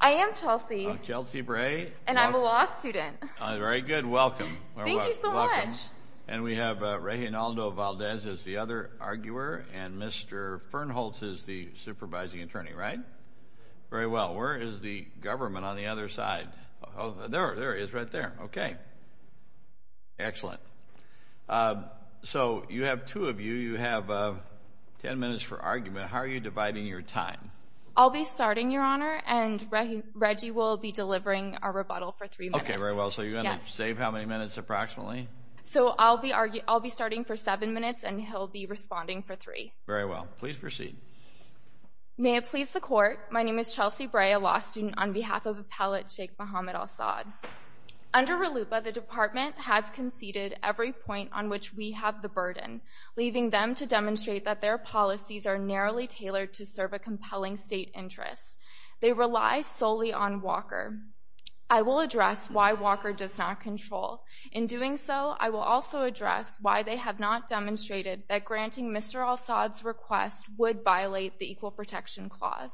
I am Chelsea. I'm Chelsea Bray. And I'm a law student. Very good. Welcome. Thank you so much. And we have Reinaldo Valdez as the other arguer and Mr. Fernholz is the supervising attorney, right? Very well. Where is the government on the other side? Oh, there it is right there. Okay. Excellent. So you have two of you. You have 10 minutes for argument. How are you dividing your time? I'll be starting, Your Honor. And Reggie will be delivering our rebuttal for three minutes. Okay, very well. So you're going to save how many minutes approximately? So I'll be starting for seven minutes and he'll be responding for three. Very well. Please proceed. May it please the court. My name is Chelsea Bray, a law student on behalf of Appellate Sheikh Muhammad Al Saud. Under RLUPA, the department has conceded every point on which we have the burden, leaving them to demonstrate that their policies are narrowly tailored to serve a compelling state interest. They rely solely on Walker. I will address why Walker does not control. In doing so, I will also address why they have not demonstrated that granting Mr. Al Saud's request would violate the Equal Protection Clause.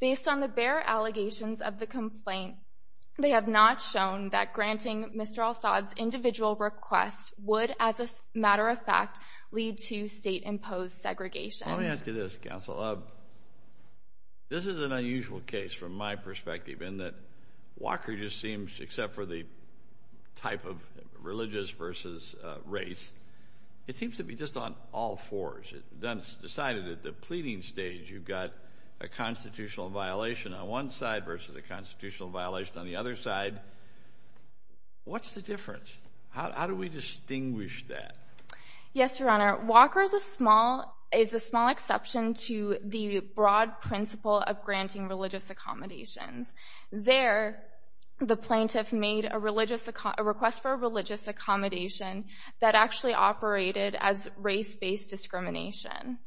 Based on the bare allegations of the complaint, they have not shown that granting Mr. Al Saud's individual request would, as a matter of fact, lead to state-imposed segregation. Let me ask you this, counsel. This is an unusual case from my perspective in that Walker just seems, except for the type of religious versus race, it seems to be just on all fours. It's decided at the pleading stage you've got a constitutional violation on one side versus a constitutional violation on the other side. What's the difference? How do we distinguish that? Yes, Your Honor. Walker is a small exception to the broad principle of granting religious accommodations. There, the plaintiff made a request for a religious accommodation that actually operated as race-based discrimination.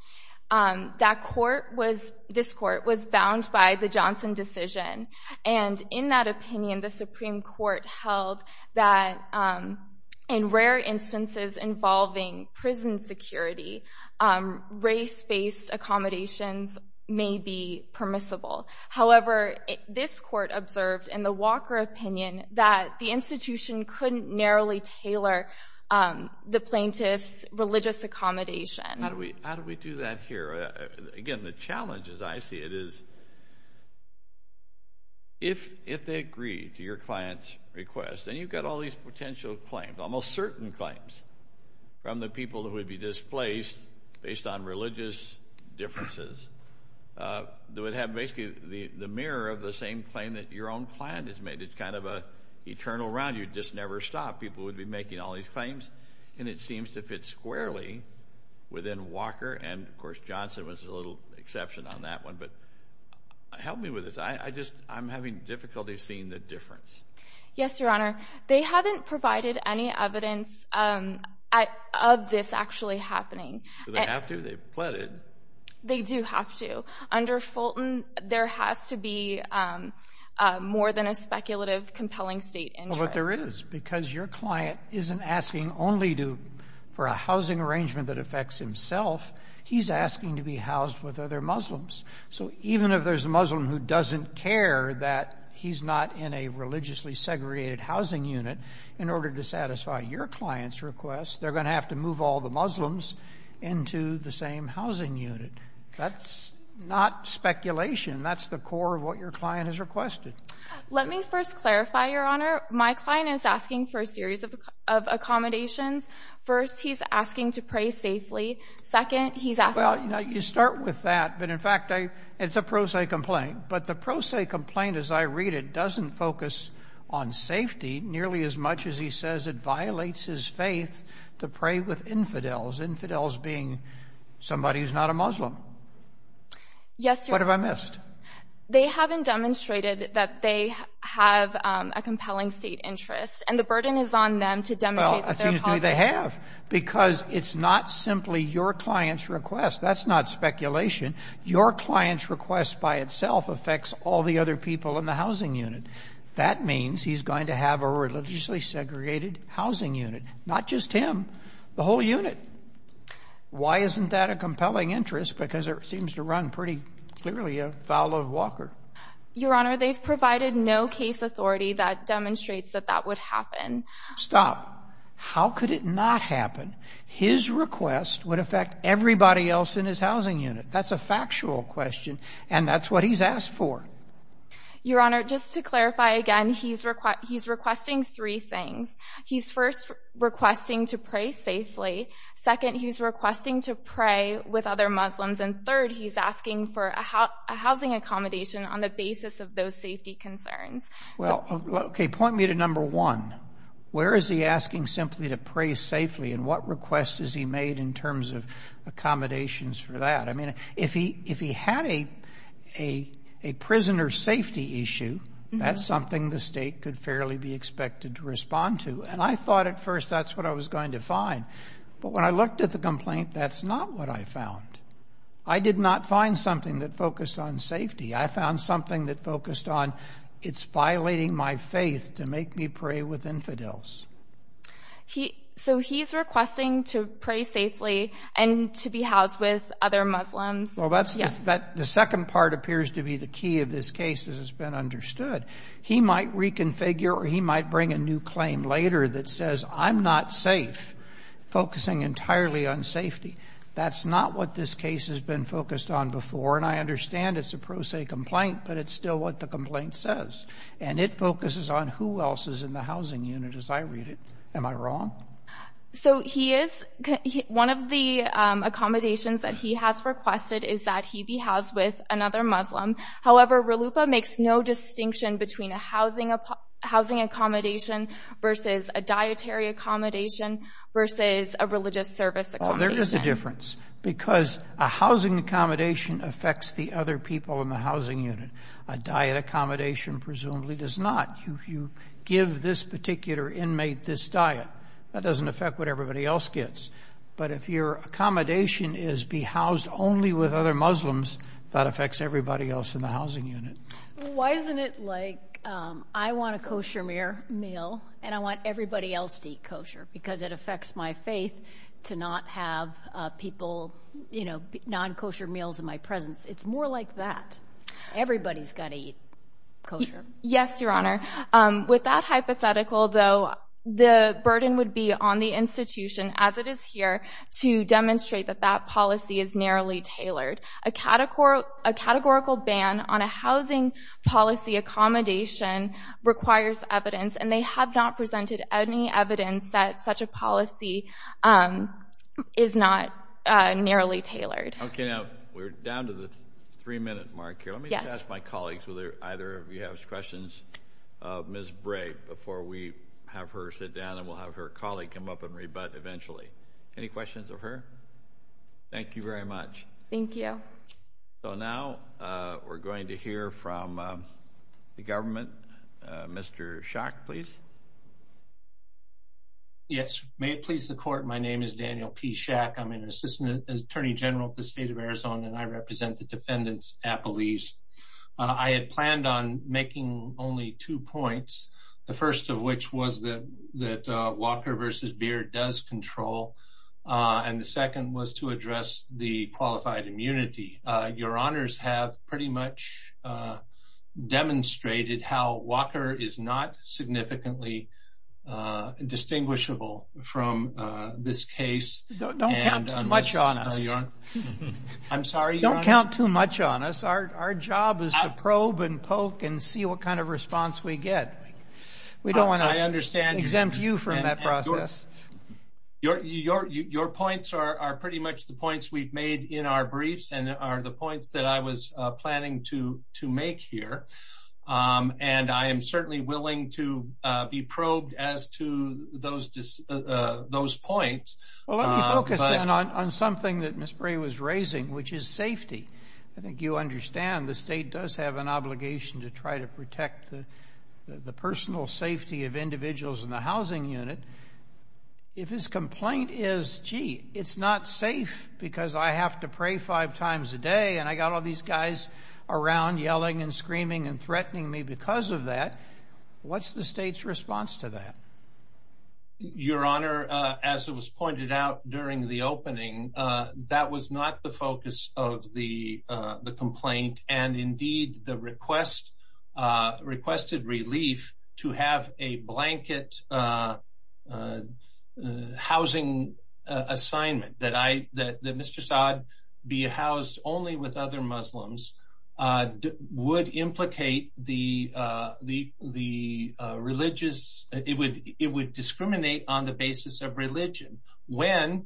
That court was, this court, was bound by the Johnson decision, and in that opinion, the Supreme Court held that in rare instances involving prison security, race-based accommodations may be permissible. However, this court observed in the Walker opinion that the institution couldn't narrowly tailor the plaintiff's religious accommodation. How do we do that here? Again, the challenge, as I see it, is if they agree to your client's request, then you've got all these potential claims, almost certain claims, from the people that would be displaced based on religious differences that would have basically the mirror of the same claim that your own client has made. It's kind of an eternal round. You'd just never stop. People would be making all these claims, and it seems to fit squarely within Walker, and of course, Johnson was a little exception on that one. But help me with this. I just, I'm having difficulty seeing the difference. Yes, Your Honor. They haven't provided any evidence of this actually happening. Do they have to? They've pleaded. They do have to. Under Fulton, there has to be more than a speculative compelling state interest. Because your client isn't asking only for a housing arrangement that affects himself. He's asking to be housed with other Muslims. So even if there's a Muslim who doesn't care that he's not in a religiously segregated housing unit, in order to satisfy your client's request, they're going to have to move all the Muslims into the same housing unit. That's not speculation. That's the core of what your client has requested. Let me first clarify, Your Honor. My client is asking for a series of accommodations. First, he's asking to pray safely. Second, he's asking... Well, you start with that, but in fact, it's a pro se complaint. But the pro se complaint, as I read it, doesn't focus on safety nearly as much as he says it violates his faith to pray with infidels, infidels being somebody who's not a Muslim. Yes, Your Honor. What have I missed? They haven't demonstrated that they have a compelling state interest, and the burden is on them to demonstrate that they're positive. Well, it seems to me they have, because it's not simply your client's request. That's not speculation. Your client's request by itself affects all the other people in the housing unit. That means he's going to have a religiously segregated housing unit, not just him, the whole unit. Why isn't that a compelling interest? Because it seems to run pretty clearly afoul of Walker. Your Honor, they've provided no case authority that demonstrates that that would happen. Stop. How could it not happen? His request would affect everybody else in his housing unit. That's a factual question, and that's what he's asked for. Your Honor, just to clarify again, he's requesting three things. He's first requesting to pray a housing accommodation on the basis of those safety concerns. Well, okay. Point me to number one. Where is he asking simply to pray safely, and what requests has he made in terms of accommodations for that? I mean, if he had a prisoner safety issue, that's something the state could fairly be expected to respond to, and I thought at first that's what I was going to find. But when I looked at the complaint, that's not what I found. I did not find something that focused on safety. I found something that focused on it's violating my faith to make me pray with infidels. So he's requesting to pray safely and to be housed with other Muslims. Well, the second part appears to be the key of this case, as has been understood. He might reconfigure, or he might bring a new claim later that says, I'm not safe, focusing entirely on safety. That's not what this case has been focused on before, and I understand it's a pro se complaint, but it's still what the complaint says, and it focuses on who else is in the housing unit, as I read it. Am I wrong? So he is, one of the accommodations that he has requested is that he be housed with another Muslim. However, RLUIPA makes no distinction between a housing accommodation versus a dietary accommodation versus a religious service accommodation. Well, there is a difference, because a housing accommodation affects the other people in the housing unit. A diet accommodation presumably does not. You give this particular inmate this diet. That doesn't affect what everybody else gets. But if your accommodation is be housed only with other Muslims, that affects everybody else in the housing unit. Why isn't it like, I want a kosher meal, and I want everybody else to eat kosher, because it affects my faith to not have people, you know, non-kosher meals in my presence. It's more like that. Everybody's got to eat kosher. Yes, Your Honor. With that hypothetical, though, the burden would be on the institution as it is to demonstrate that that policy is narrowly tailored. A categorical ban on a housing policy accommodation requires evidence, and they have not presented any evidence that such a policy is not narrowly tailored. Okay. Now, we're down to the three-minute mark here. Let me ask my colleagues, either of you have questions of Ms. Bray, before we have her sit down and we'll have her colleague come up and rebut eventually. Any questions of her? Thank you very much. Thank you. So now, we're going to hear from the government. Mr. Schack, please. Yes. May it please the Court, my name is Daniel P. Schack. I'm an Assistant Attorney General at the State of Arizona, and I represent the defendants at Belize. I had planned on making only two points. The first of which was that Walker v. Beard does control, and the second was to address the qualified immunity. Your Honors have pretty much demonstrated how Walker is not significantly distinguishable from this case. Don't count too much on us. I'm sorry, Your Honor? Don't count too much on us. Our job is to probe and poke and see what kind of response we get. We don't want to exempt you from that process. Your points are pretty much the points we've made in our briefs and are the points that I was planning to make here. I am certainly willing to be probed as to those points. Well, let me focus on something that Ms. Bray was raising, which is safety. I think you understand the state does have an obligation to try to protect the personal safety of individuals in the housing unit. If his complaint is, gee, it's not safe because I have to pray five times a day and I got all these guys around yelling and screaming and threatening me because of that, what's the state's response to that? Your Honor, as it was pointed out during the opening, that was not the focus of the complaint. Indeed, the requested relief to have a blanket housing assignment that Mr. Saad be housed only with other Muslims would implicate the religious, it would discriminate on the basis of religion when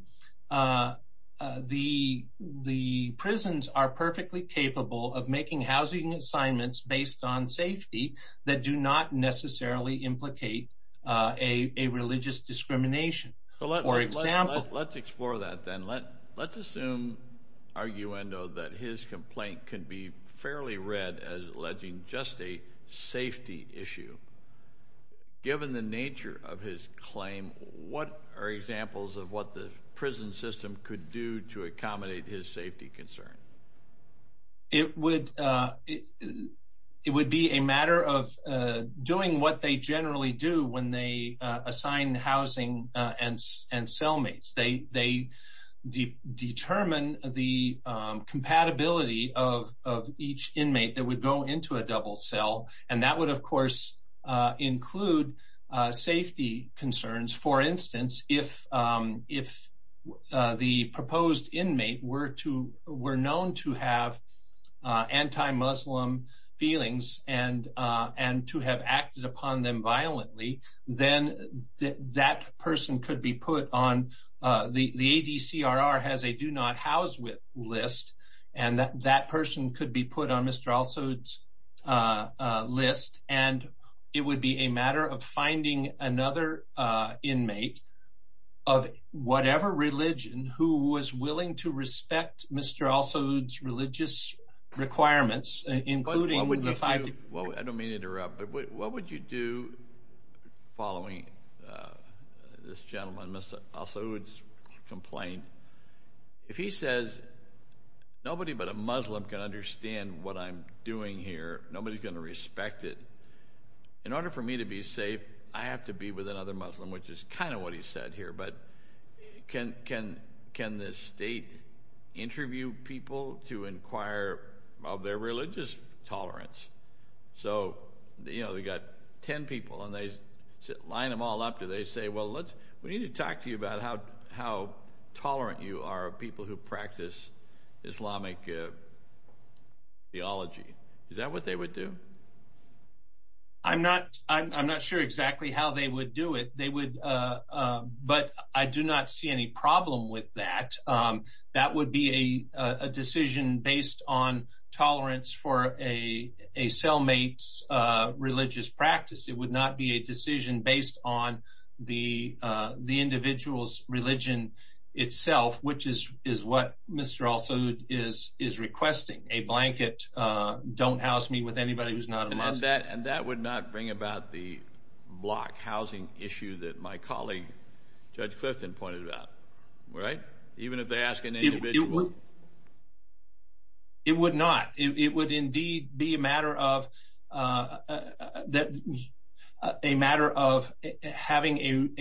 the prisons are perfectly capable of making housing assignments based on safety that do not necessarily implicate a religious discrimination. Let's explore that then. Let's assume, arguendo, that his complaint could be fairly read as alleging just a safety issue. Given the nature of his claim, what are examples of what the prison system could do to accommodate his safety concern? It would be a matter of doing what they generally do when they assign housing and cellmates. They determine the compatibility of each inmate that would go into a double cell. That would, of course, include safety concerns. For instance, if the proposed inmate were known to have anti-Muslim feelings and to have acted violently, the ADCRR has a do not house with list. That person could be put on Mr. Al Saud's list. It would be a matter of finding another inmate of whatever religion who was willing to do following this gentleman, Mr. Al Saud's complaint. If he says nobody but a Muslim can understand what I'm doing here, nobody's going to respect it, in order for me to be safe, I have to be with another Muslim, which is kind of what he said here. But can the state interview people to inquire of their religious tolerance? So we've got 10 people, and they line them all up. Do they say, well, we need to talk to you about how tolerant you are of people who practice Islamic theology? Is that what they would do? I'm not sure exactly how they would do it. But I do not see any problem with that. That would be a decision based on tolerance for a cellmate's religious practice. It would not be a decision based on the individual's religion itself, which is what Mr. Al Saud is requesting. A blanket, don't house me with anybody who's not a block housing issue that my colleague, Judge Clifton, pointed out. Even if they ask an individual. It would not. It would indeed be a matter of having a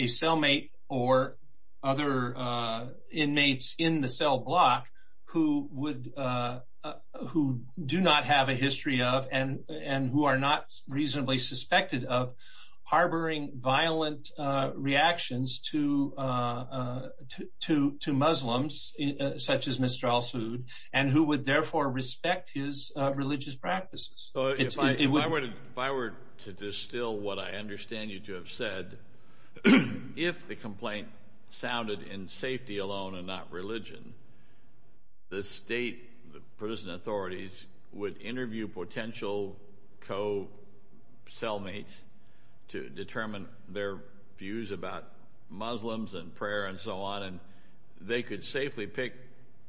cellmate or other inmates in the cell block who do not have a history of and who are not reasonably suspected of harboring violent reactions to Muslims, such as Mr. Al Saud, and who would therefore respect his religious practices. If I were to distill what I understand you to have said, if the complaint sounded in safety alone and not religion, the state prison authorities would interview potential co-cellmates to determine their views about Muslims and prayer and so on, and they could safely pick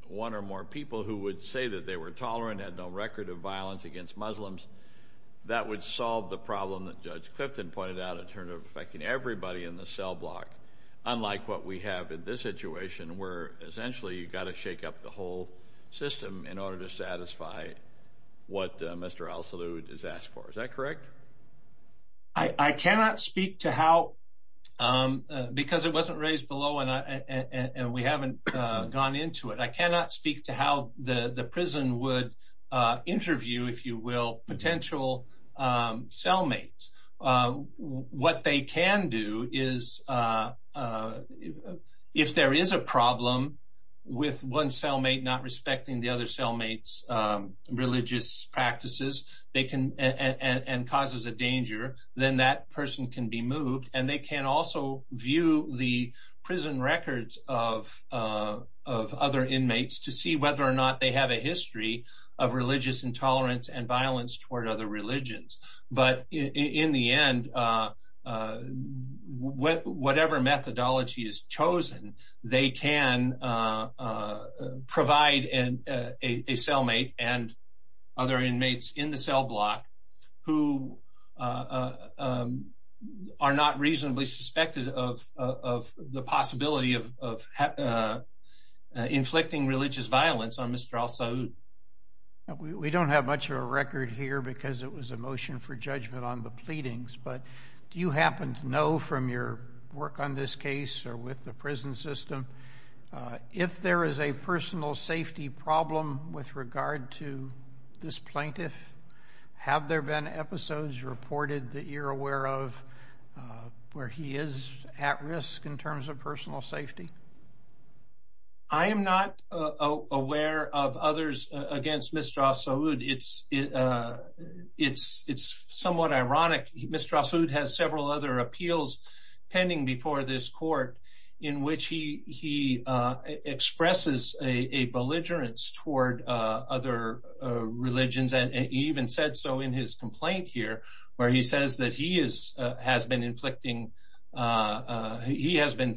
one or more people who would say that they were tolerant and had no record of violence against Muslims. That would solve the problem that Judge Clifton pointed out in terms of affecting everybody in the cell block, unlike what we have in this situation, where essentially you've got to shake up the whole system in order to satisfy what Mr. Al Saud has asked for. Is that correct? I cannot speak to how, because it wasn't raised below and we haven't gone into it, I cannot speak to how the prison would interview, if you will, potential cellmates. What they can do is, if there is a problem with one cellmate not respecting the other cellmate's religious practices and causes a danger, then that person can be moved, and they can also view the prison records of other inmates to see whether or not they have a history of religious intolerance and violence toward other religions. But in the end, whatever methodology is chosen, they can provide a cellmate and other inmates in the cell block who are not reasonably suspected of the possibility of inflicting religious violence on Mr. Al Saud. We don't have much of a record here because it was a motion for judgment on the pleadings, but do you happen to know from your work on this case or with the prison system, if there is a personal safety problem with regard to this plaintiff? Have there been episodes reported that you're aware of where he is at risk in terms of personal safety? I am not aware of others against Mr. Al Saud. It's somewhat ironic. Mr. Al Saud has several other appeals pending before this court in which he expresses a belligerence toward other religions, and he even said so in his complaint here, where he says that he has been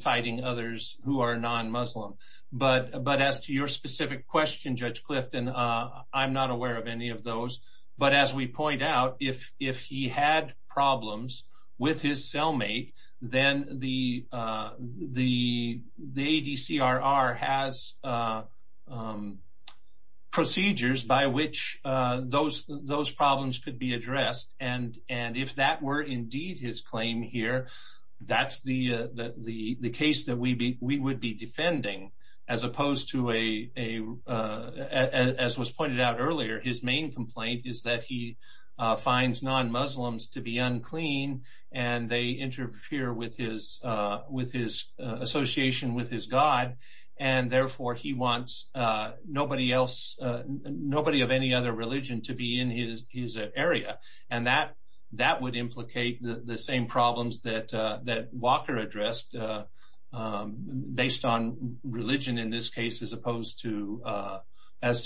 fighting others who are non-Muslim. But as to your specific question, Judge Clifton, I'm not aware of any of those. But as we point out, if he had problems with his cellmate, then the ADCRR has procedures by which those problems could be addressed, and if that were indeed his claim here, that's the case that we would be defending, as opposed to, as was pointed out earlier, his main complaint is that he finds non-Muslims to be unclean, and they interfere with his association with his god, and therefore he wants nobody of any other religion to be in his area. And that would implicate the same problems that Walker addressed, based on religion in this case, as opposed to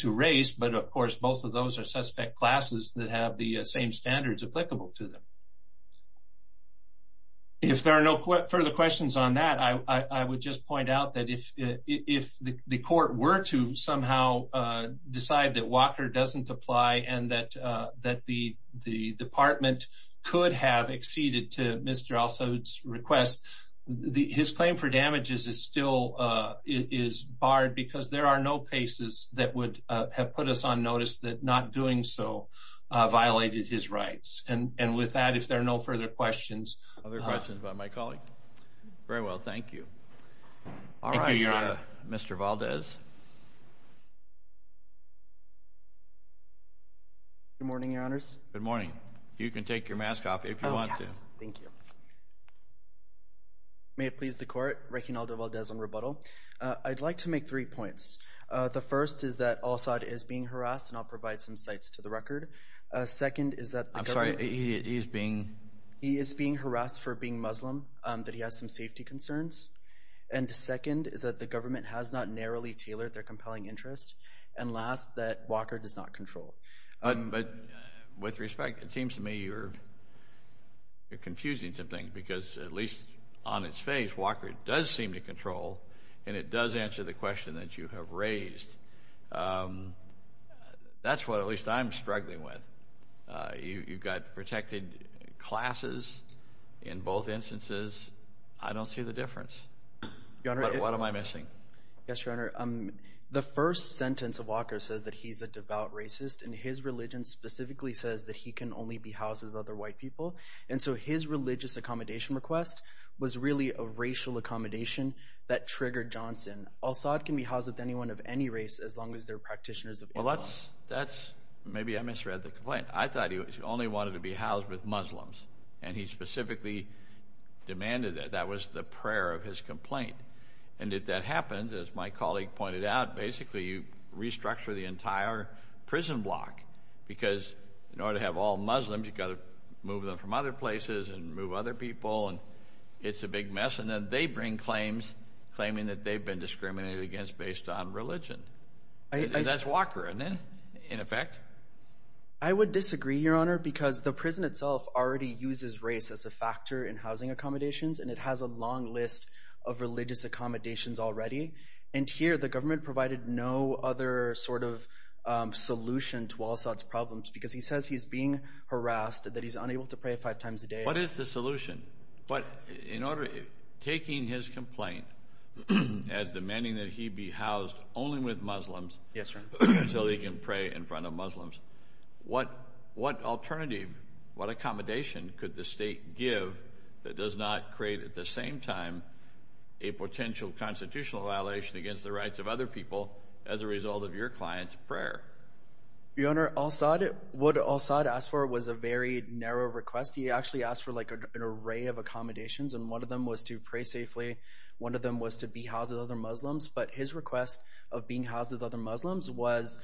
race. But of course, both of those are suspect classes that have the same standards applicable to them. If there are no further questions on that, I would just point out that if the court were to somehow decide that Walker doesn't apply, and that the department could have acceded to Mr. Al-Saud's request, his claim for damages is still barred, because there are no cases that would have put us on notice that not doing so violated his rights. And with that, if there are no further questions. Other questions by my colleague? Very well, thank you. All right, Mr. Valdez. Good morning, Your Honors. Good morning. You can take your mask off if you want to. Oh, yes, thank you. May it please the Court, Rekin Aldo Valdez on rebuttal. I'd like to make three points. The first is that Al-Saud is being harassed, and I'll provide some sites to the record. Second is that the government... I'm sorry, he is being... He is being harassed for being Muslim, that he has some safety concerns. And second is that the government has not narrowly tailored their compelling interest. And last, that Walker does not control. But with respect, it seems to me you're confusing some things, because at least on its face, Walker does seem to control, and it does answer the question that you have raised. That's what at least I'm struggling with. You've got protected classes in both instances. I don't see the difference. Your Honor... But what am I missing? Yes, Your Honor. The first sentence of Walker says that he's a devout racist, and his religion specifically says that he can only be housed with other white people. And so his religious accommodation request was really a racial accommodation that triggered Johnson. Al-Saud can be housed with anyone of any race as long as they're practitioners of Islam. That's... Maybe I misread the complaint. I thought he only wanted to be housed with Muslims, and he specifically demanded that. That was the prayer of his complaint. And if that happened, as my colleague pointed out, basically you restructure the entire prison block, because in order to have all Muslims, you've got to move them from other places and move other people, and it's a big mess. And then they bring claims, claiming that they've been discriminated against based on religion. That's Walker, isn't it, in effect? I would disagree, Your Honor, because the prison itself already uses race as a factor in housing accommodations, and it has a long list of religious accommodations already. And here, the government provided no other sort of solution to Al-Saud's problems, because he says he's being harassed, that he's unable to pray five times a day. What is the solution? But in order... Taking his complaint as demanding that he be housed only with Muslims... Yes, Your Honor. So he can pray in front of Muslims. What alternative, what accommodation could the state give that does not create, at the same time, a potential constitutional violation against the rights of other people as a result of your client's prayer? Your Honor, Al-Saud... What Al-Saud asked for was a very narrow request. He actually asked for, like, an array of accommodations, and one of them was to pray safely, one of them was to be housed with other Muslims, but his request of being housed with other Muslims was...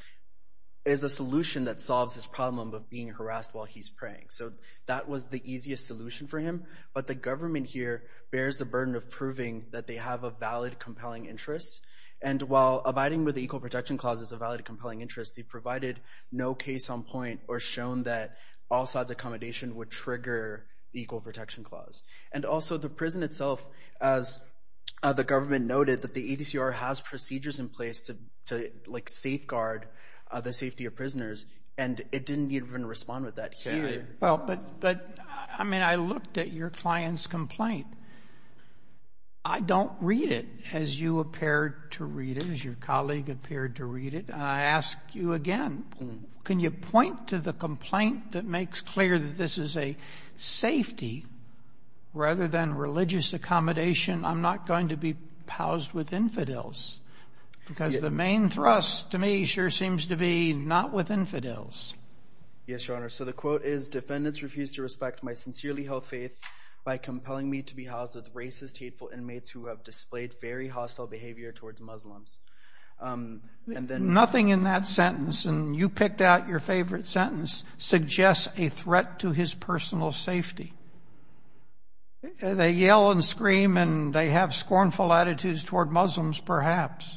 Is a solution that solves his problem of being harassed while he's praying. So that was the easiest solution for him, but the government here bears the burden of proving that they have a valid, compelling interest. And while abiding with the Equal Protection Clause is a valid, compelling interest, they provided no case on point or shown that Al-Saud's accommodation would trigger the Equal Protection Clause. The government noted that the ADCR has procedures in place to, to, like, safeguard the safety of prisoners, and it didn't even respond with that here. Well, but, but, I mean, I looked at your client's complaint. I don't read it as you appeared to read it, as your colleague appeared to read it. I ask you again, can you point to the complaint that makes clear that this is a safety rather than religious accommodation? I'm not going to be housed with infidels, because the main thrust to me sure seems to be not with infidels. Yes, Your Honor. So the quote is, defendants refuse to respect my sincerely held faith by compelling me to be housed with racist, hateful inmates who have displayed very hostile behavior towards Muslims. Nothing in that sentence, and you picked out your favorite sentence, suggests a threat to his personal safety. They yell and scream and they have scornful attitudes toward Muslims, perhaps,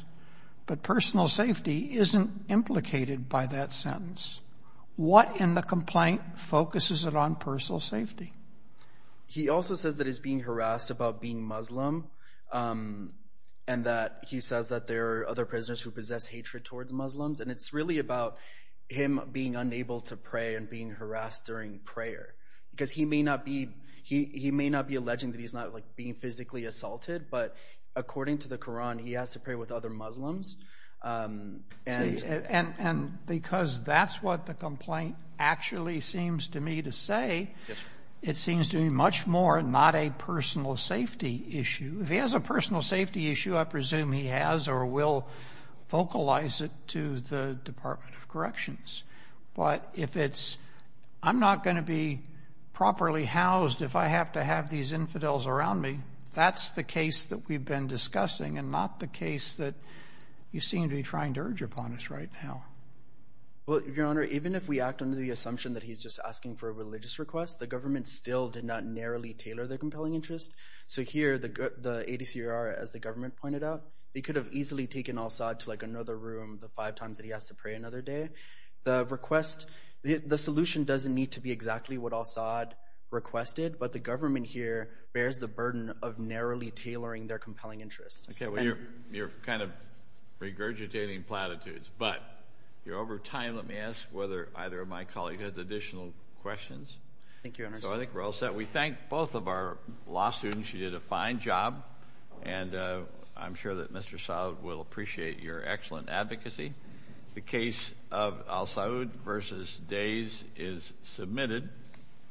but personal safety isn't implicated by that sentence. What in the complaint focuses it on personal safety? He also says that he's being harassed about being Muslim, and that he says that there are other prisoners who possess hatred towards Muslims, and it's really about him being unable to pray and being harassed during prayer, because he may not be alleging that he's not being physically assaulted, but according to the Quran, he has to pray with other Muslims. And because that's what the complaint actually seems to me to say, it seems to me much more not a personal safety issue. If he has a personal safety issue, I presume he has or will vocalize it to the Department of Corrections. But if it's, I'm not going to be properly housed if I have to have these infidels around me. That's the case that we've been discussing, and not the case that you seem to be trying to urge upon us right now. Well, Your Honor, even if we act under the assumption that he's just asking for a religious request, the government still did not narrowly tailor their compelling interest. So here, the ADCR, as the government pointed out, they could have easily taken Assad to another room the five times that he has to pray another day. The solution doesn't need to be exactly what Assad requested, but the government here bears the burden of narrowly tailoring their compelling interest. Okay, well, you're kind of regurgitating platitudes, but you're over time. Let me ask whether either of my colleagues has additional questions. Thank you, Your Honor. So I think we thank both of our law students. You did a fine job, and I'm sure that Mr. Saud will appreciate your excellent advocacy. The case of Al Saud versus Days is submitted.